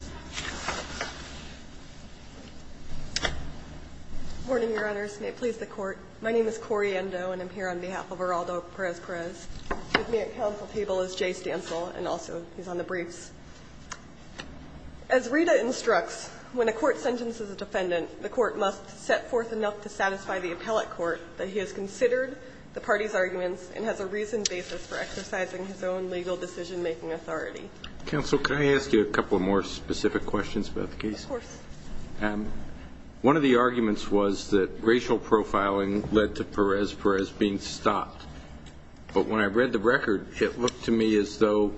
Good morning, Your Honors. May it please the Court, my name is Cori Endo and I'm here on behalf of Geraldo Perez-Perez. With me at counsel's table is Jay Stansel, and also he's on the briefs. As Rita instructs, when a court sentences a defendant, the court must set forth enough to satisfy the appellate court that he has considered the party's arguments and has a reasoned basis for exercising his own legal decision-making authority. Counsel, can I ask you a couple of more specific questions about the case? Of course. One of the arguments was that racial profiling led to Perez-Perez being stopped, but when I read the record, it looked to me as though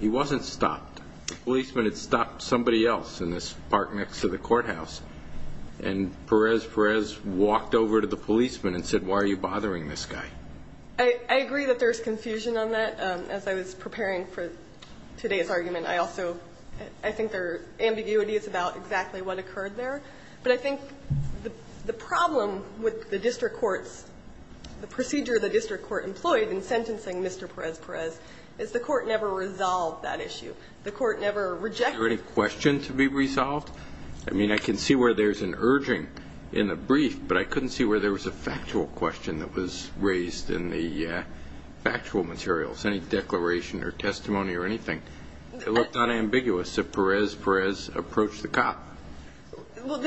he wasn't stopped. The policeman had stopped somebody else in this park next to the courthouse, and Perez-Perez walked over to the policeman and said, why are you bothering this guy? I agree that there's confusion on that. As I was preparing for today's argument, I also, I think there are ambiguities about exactly what occurred there. But I think the problem with the district court's, the procedure the district court employed in sentencing Mr. Perez-Perez is the court never resolved that issue. The court never rejected it. Is there any question to be resolved? I mean, I can see where there's an urging in the brief, but I couldn't see where there was a factual question that was raised in the factual materials, any declaration or testimony or anything. It looked unambiguous that Perez-Perez approached the cop. Well,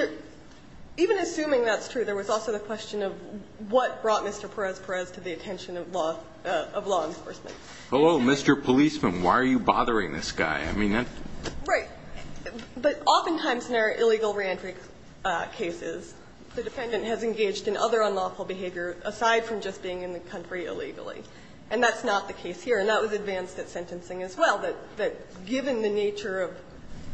even assuming that's true, there was also the question of what brought Mr. Perez-Perez to the attention of law, of law enforcement. Oh, Mr. Policeman, why are you bothering this guy? I mean, that's... But oftentimes in our illegal reentry cases, the defendant has engaged in other unlawful behavior aside from just being in the country illegally. And that's not the case here. And that was advanced at sentencing as well, that given the nature of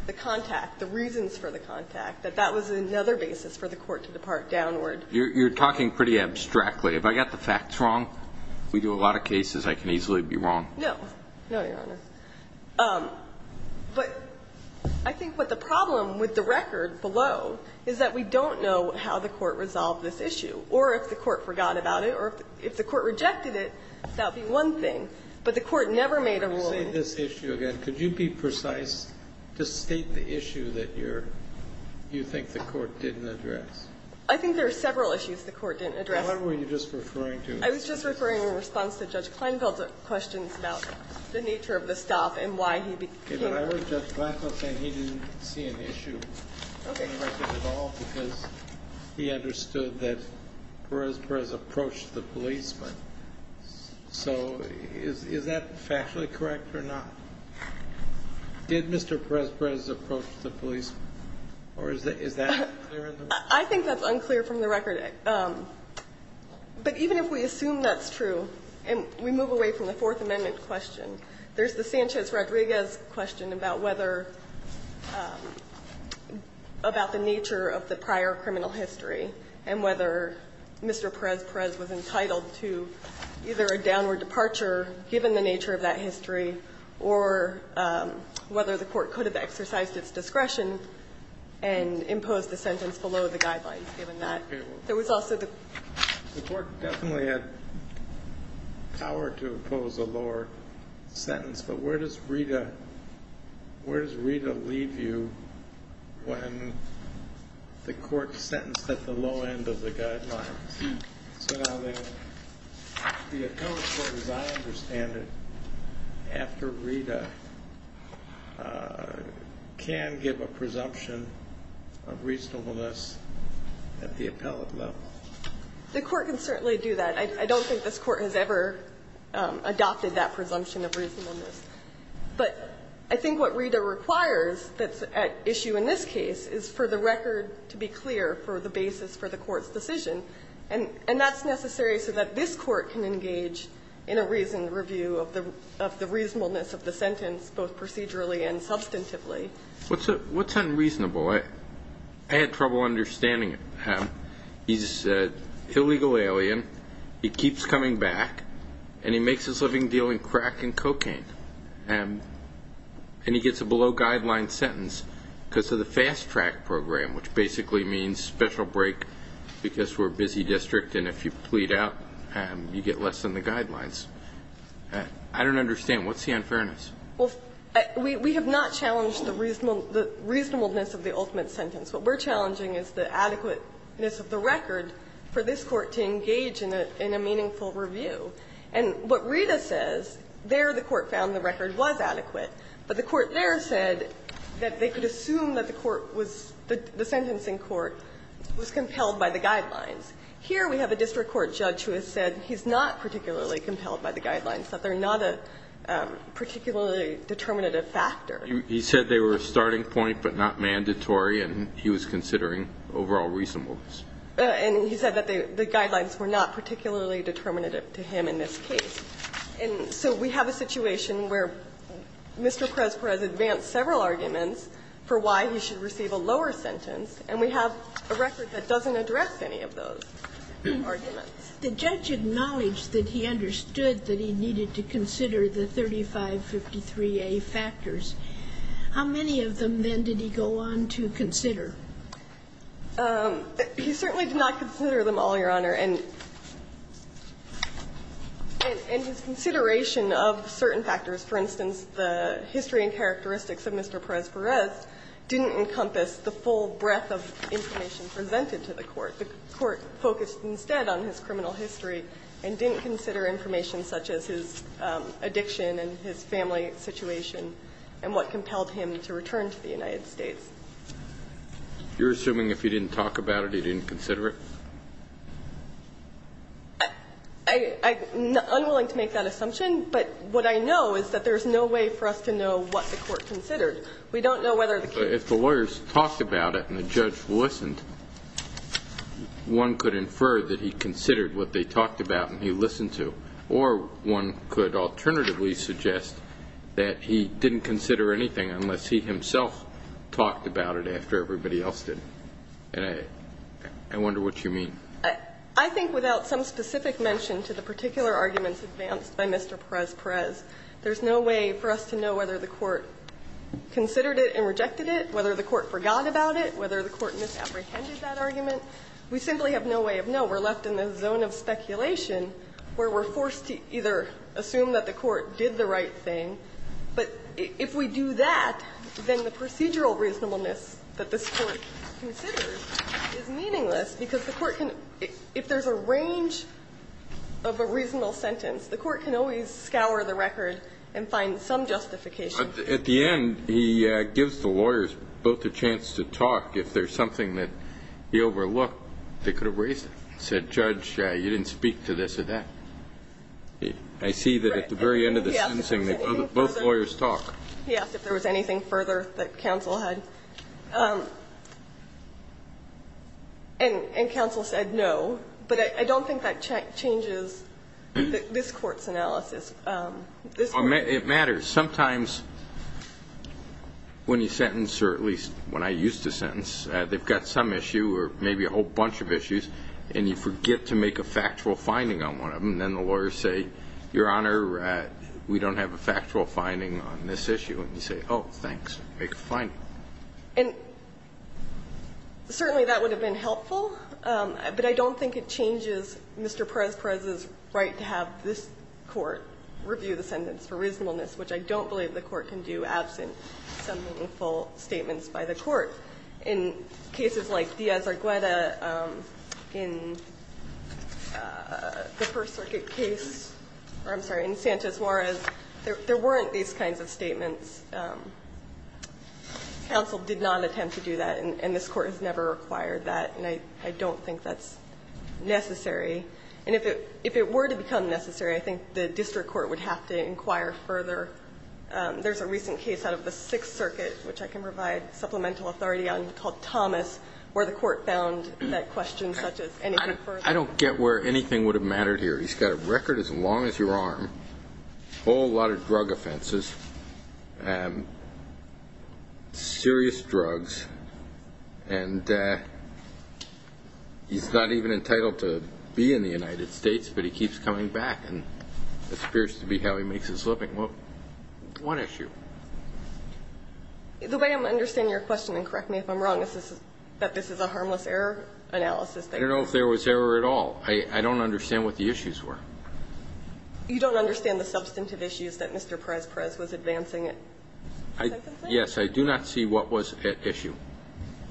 the contact, the reasons for the contact, that that was another basis for the court to depart downward. You're talking pretty abstractly. Have I got the facts wrong? We do a lot of cases. I can easily be wrong. No. No, Your Honor. But I think what the problem with the record below is that we don't know how the court resolved this issue, or if the court forgot about it, or if the court rejected it, that would be one thing. But the court never made a rule... When you say this issue again, could you be precise to state the issue that you're you think the court didn't address? I think there are several issues the court didn't address. Well, what were you just referring to? I was just referring in response to Judge Kleinfeld's questions about the nature of the staff and why he became... Okay. But I heard Judge Blackwell saying he didn't see an issue... Okay. ...in the record at all because he understood that Perez-Perez approached the police, but so is that factually correct or not? Did Mr. Perez-Perez approach the police or is that unclear in the record? But even if we assume that's true and we move away from the Fourth Amendment question, there's the Sanchez-Rodriguez question about whether the nature of the prior criminal history and whether Mr. Perez-Perez was entitled to either a downward departure given the nature of that history or whether the court could have exercised its discretion and imposed the sentence below the guidelines given that... Okay. ...there was also the... The court definitely had power to impose a lower sentence, but where does Rita leave you when the court sentenced at the low end of the guidelines? So now the appellate court, as I understand it, after Rita, can give a presumption of reasonableness at the appellate level? The court can certainly do that. I don't think this court has ever adopted that presumption of reasonableness. But I think what Rita requires that's at issue in this case is for the record to be clear for the basis for the court's decision. And that's necessary so that this court can engage in a reasoned review of the reasonableness of the sentence, both procedurally and substantively. What's unreasonable? I had trouble understanding it. He's an illegal alien. He keeps coming back. And he makes his living dealing crack and cocaine. And he gets a below-guidelines sentence because of the fast-track program, which basically means special break because we're a busy district, and if you plead out, you get less than the guidelines. I don't understand. What's the unfairness? Well, we have not challenged the reasonableness of the ultimate sentence. What we're challenging is the adequateness of the record for this court to engage in a meaningful review. And what Rita says, there the court found the record was adequate, but the court there said that they could assume that the court was the sentencing court was compelled by the guidelines. Here we have a district court judge who has said he's not particularly compelled by the guidelines, that they're not a particularly determinative factor. He said they were a starting point but not mandatory, and he was considering overall reasonableness. And he said that the guidelines were not particularly determinative to him in this case. And so we have a situation where Mr. Presper has advanced several arguments for why he should receive a lower sentence, and we have a record that doesn't address any of those arguments. The judge acknowledged that he understood that he needed to consider the 3553A factors. How many of them, then, did he go on to consider? He certainly did not consider them all, Your Honor. And his consideration of certain factors, for instance, the history and characteristics of Mr. Presper's, didn't encompass the full breadth of information presented to the court. The court focused instead on his criminal history and didn't consider information such as his addiction and his family situation and what compelled him to return to the United States. You're assuming if he didn't talk about it, he didn't consider it? I'm unwilling to make that assumption. But what I know is that there's no way for us to know what the court considered. We don't know whether the case was considered. But if the lawyers talked about it and the judge listened, one could infer that he considered what they talked about and he listened to. Or one could alternatively suggest that he didn't consider anything unless he himself talked about it after everybody else did. And I wonder what you mean. I think without some specific mention to the particular arguments advanced by Mr. Presper's, there's no way for us to know whether the court considered it and rejected it, whether the court forgot about it, whether the court misapprehended that argument. We simply have no way of knowing. We're left in the zone of speculation where we're forced to either assume that the court did the right thing. But if we do that, then the procedural reasonableness that this Court considers is meaningless because the court can, if there's a range of a reasonable sentence, the court can always scour the record and find some justification. But at the end, he gives the lawyers both a chance to talk. If there's something that he overlooked, they could have raised it and said, Judge, you didn't speak to this or that. I see that at the very end of the sentencing, both lawyers talk. He asked if there was anything further that counsel had. And counsel said no. But I don't think that changes this Court's analysis. It matters. Sometimes when you sentence, or at least when I used to sentence, they've got some issue or maybe a whole bunch of issues, and you forget to make a factual finding on one of them, and then the lawyers say, Your Honor, we don't have a factual finding on this issue, and you say, oh, thanks, make a finding. And certainly that would have been helpful, but I don't think it changes Mr. Perez-Perez's right to have this Court review the sentence for reasonableness, which I don't believe the Court can do absent some meaningful statements by the Court. In cases like Diaz-Argueda, in the First Circuit case, or I'm sorry, in Sanchez-Mores, there weren't these kinds of statements. Counsel did not attempt to do that, and this Court has never required that, and I don't think that's necessary. And if it were to become necessary, I think the district court would have to inquire further. There's a recent case out of the Sixth Circuit, which I can provide supplemental authority on, called Thomas, where the Court found that questions such as anything further... I don't get where anything would have mattered here. He's got a record as long as your arm, a whole lot of drug offenses, serious drugs, and he's not even entitled to be in the United States, but he keeps coming back, and it appears to be how he makes his living. What issue? The way I'm understanding your question, and correct me if I'm wrong, is that this is a harmless error analysis. I don't know if there was error at all. I don't understand what the issues were. You don't understand the substantive issues that Mr. Perez-Perez was advancing at Second Circuit? Yes. I do not see what was at issue.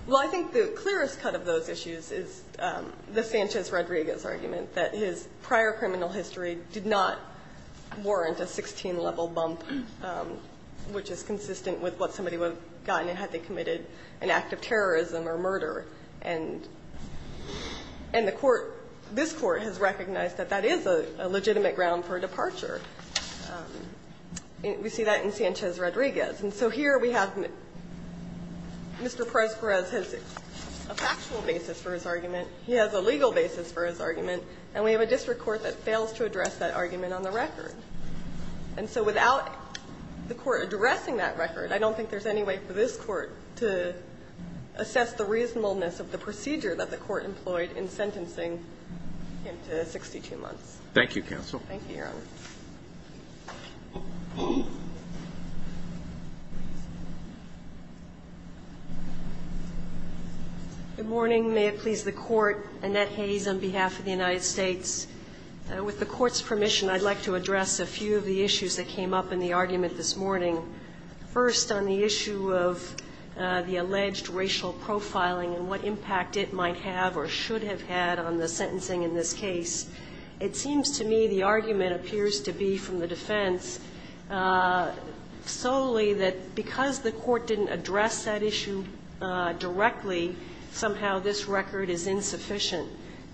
Well, I think the clearest cut of those issues is the Sanchez-Rodriguez argument, that his prior criminal history did not warrant a 16-level bump, which is consistent with what somebody would have gotten had they committed an act of terrorism or murder, and the Court, this Court, has recognized that that is a legitimate ground for departure. We see that in Sanchez-Rodriguez. And so here we have Mr. Perez-Perez has a factual basis for his argument. He has a legal basis for his argument. And we have a district court that fails to address that argument on the record. And so without the Court addressing that record, I don't think there's any way for this Court to assess the reasonableness of the procedure that the Court employed in sentencing him to 62 months. Thank you, counsel. Thank you, Your Honor. Good morning. May it please the Court. Annette Hayes on behalf of the United States. With the Court's permission, I'd like to address a few of the issues that came up in the argument this morning. First, on the issue of the alleged racial profiling and what impact it might have or should have had on the sentencing in this case. It seems to me the argument appears to be from the defense solely that because the Court didn't address that issue directly, somehow this record is insufficient.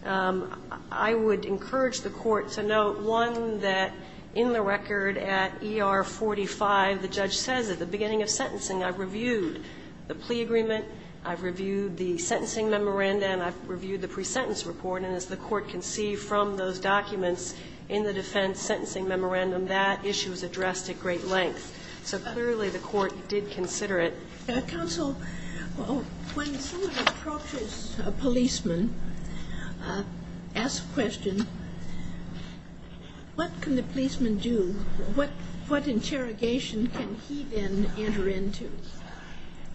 I would encourage the Court to note, one, that in the record at ER 45, the judge says at the beginning of sentencing, I've reviewed the plea agreement, I've reviewed the sentencing memoranda, and I've reviewed the pre-sentence report. And as the Court can see from those documents in the defense sentencing memorandum, that issue is addressed at great length. So clearly the Court did consider it. Counsel, when someone approaches a policeman, asks a question, what can the policeman do? What interrogation can he then enter into?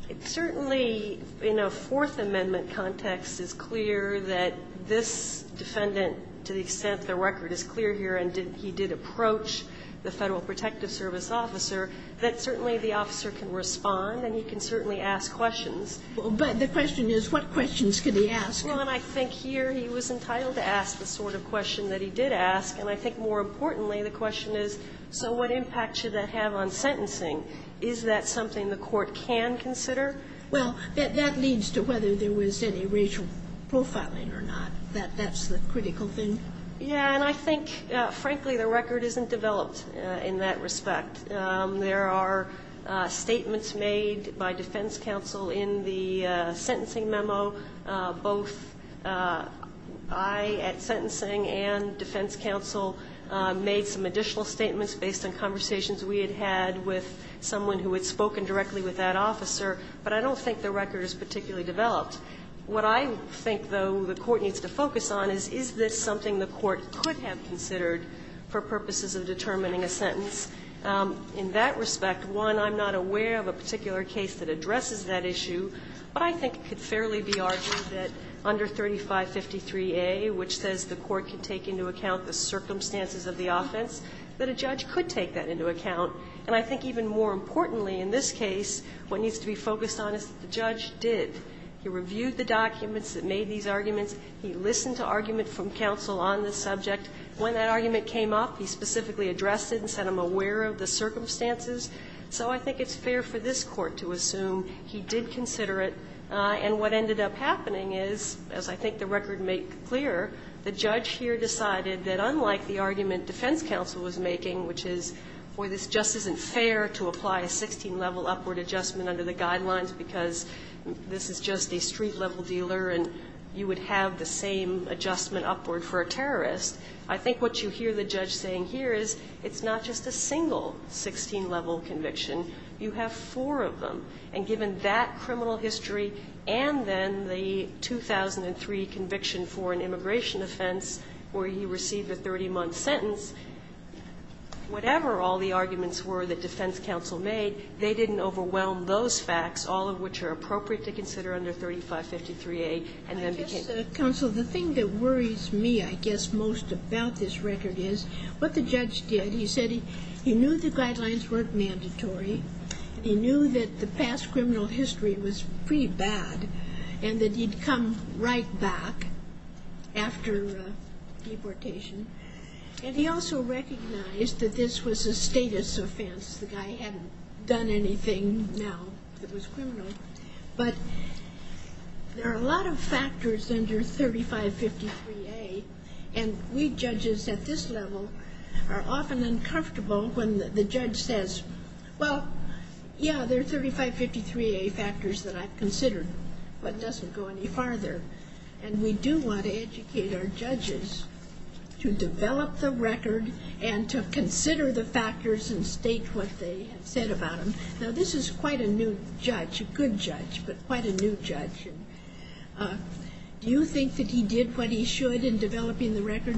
It certainly, in a Fourth Amendment context, is clear that this defendant, to the extent the record is clear here and he did approach the Federal Protective Service officer, that certainly the officer can respond and he can certainly ask questions. But the question is, what questions could he ask? Well, and I think here he was entitled to ask the sort of question that he did ask. And I think more importantly, the question is, so what impact should that have on sentencing? Is that something the Court can consider? Well, that leads to whether there was any racial profiling or not. That's the critical thing. Yeah. And I think, frankly, the record isn't developed in that respect. There are statements made by defense counsel in the sentencing memo. Both I at sentencing and defense counsel made some additional statements based on conversations we had had with someone who had spoken directly with that officer, but I don't think the record is particularly developed. What I think, though, the Court needs to focus on is, is this something the Court could have considered for purposes of determining a sentence? In that respect, one, I'm not aware of a particular case that addresses that issue, but I think it could fairly be argued that under 3553A, which says the Court could take into account the circumstances of the offense, that a judge could take that into account. And I think even more importantly in this case, what needs to be focused on is that the judge did. He reviewed the documents that made these arguments. He listened to argument from counsel on this subject. When that argument came up, he specifically addressed it and said, I'm aware of the circumstances. So I think it's fair for this Court to assume he did consider it. And what ended up happening is, as I think the record made clear, the judge here decided that unlike the argument defense counsel was making, which is, boy, this just isn't fair to apply a 16-level upward adjustment under the guidelines because this is just a street-level dealer and you would have the same adjustment upward for a terrorist, I think what you hear the judge saying here is it's not just a single 16-level conviction. You have four of them. And given that criminal history and then the 2003 conviction for an immigration offense where he received a 30-month sentence, whatever all the arguments were that defense counsel made, they didn't overwhelm those facts, all of which are appropriate to consider under 3553A and then became. Counsel, the thing that worries me, I guess, most about this record is what the judge did. He said he knew the guidelines weren't mandatory. He knew that the past criminal history was pretty bad and that he'd come right back after deportation. And he also recognized that this was a status offense. The guy hadn't done anything now that was criminal. But there are a lot of factors under 3553A, and we judges at this level are often uncomfortable when the judge says, well, yeah, there are 3553A factors that I've considered, but it doesn't go any farther. And we do want to educate our judges to develop the record and to consider the factors and state what they have said about them. Now, this is quite a new judge, a good judge, but quite a new judge. Do you think that he did what he should in developing the record?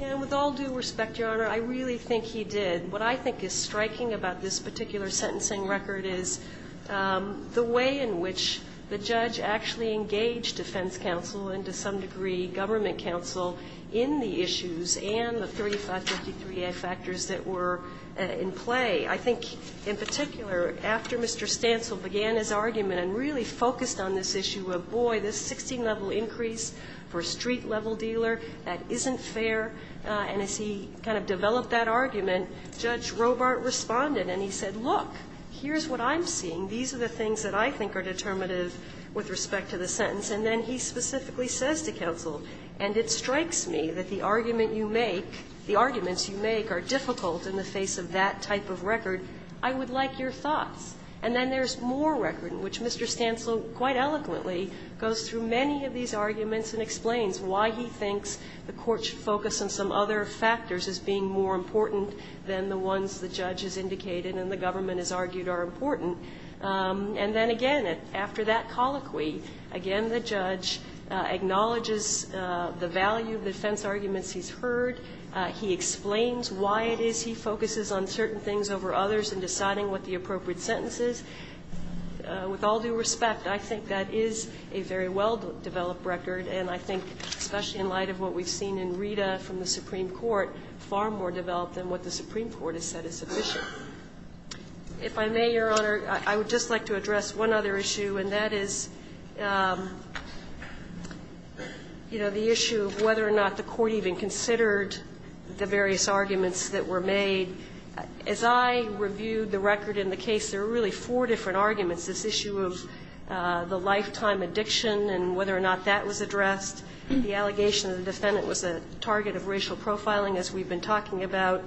And with all due respect, Your Honor, I really think he did. What I think is striking about this particular sentencing record is the way in which the judge actually engaged defense counsel and to some degree government counsel in the issues and the 3553A factors that were in play. I think in particular, after Mr. Stancil began his argument and really focused on this issue of, boy, this 16-level increase for a street-level dealer, that isn't fair, and as he kind of developed that argument, Judge Robart responded. And he said, look, here's what I'm seeing. These are the things that I think are determinative with respect to the sentence. And then he specifically says to counsel, and it strikes me that the argument you make, the arguments you make are difficult in the face of that type of record. I would like your thoughts. And then there's more record in which Mr. Stancil quite eloquently goes through many of these arguments and explains why he thinks the Court should focus on some other factors as being more important than the ones the judge has indicated and the government has argued are important. And then again, after that colloquy, again, the judge acknowledges the value of defense arguments he's heard. He explains why it is he focuses on certain things over others in deciding what the appropriate sentence is. With all due respect, I think that is a very well-developed record, and I think, especially in light of what we've seen in Rita from the Supreme Court, far more developed than what the Supreme Court has said is sufficient. If I may, Your Honor, I would just like to address one other issue, and that is, you know, the issue of whether or not the Court even considered the various arguments that were made. As I reviewed the record in the case, there were really four different arguments, this issue of the lifetime addiction and whether or not that was addressed, the allegation that the defendant was a target of racial profiling, as we've been talking about,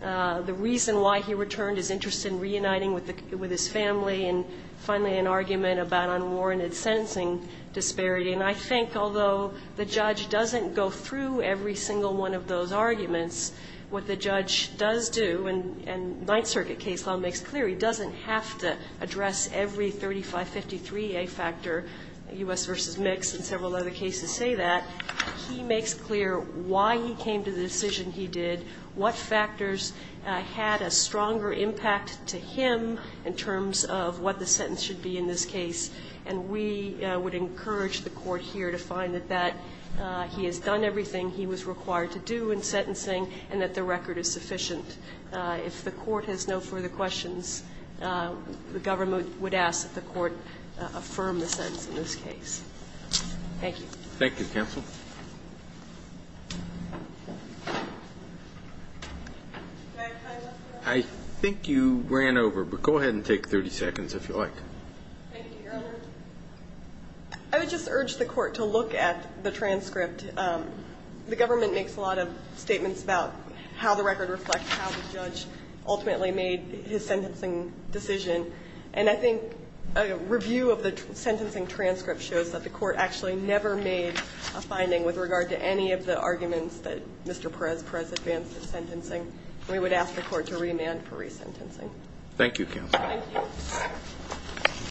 the reason why he returned, his interest in reuniting with his family, and finally, an argument about unwarranted sentencing disparity. And I think, although the judge doesn't go through every single one of those arguments, what the judge does do, and Ninth Circuit case law makes clear, he doesn't have to address every 3553A factor, U.S. v. Mix, and several other cases say that. He makes clear why he came to the decision he did, what factors had a stronger impact to him in terms of what the sentence should be in this case, and we would encourage the Court here to find that he has done everything he was required to do in sentencing and that the record is sufficient. If the Court has no further questions, the government would ask that the Court affirm the sentence in this case. Thank you. Thank you, counsel. I think you ran over, but go ahead and take 30 seconds, if you like. Thank you, Your Honor. I would just urge the Court to look at the transcript. The government makes a lot of statements about how the record reflects how the judge ultimately made his sentencing decision. And I think a review of the sentencing transcript shows that the Court actually never made a finding with regard to any of the arguments that Mr. Perez-Perez advanced in sentencing. We would ask the Court to remand for resentencing. Thank you, counsel. Thank you.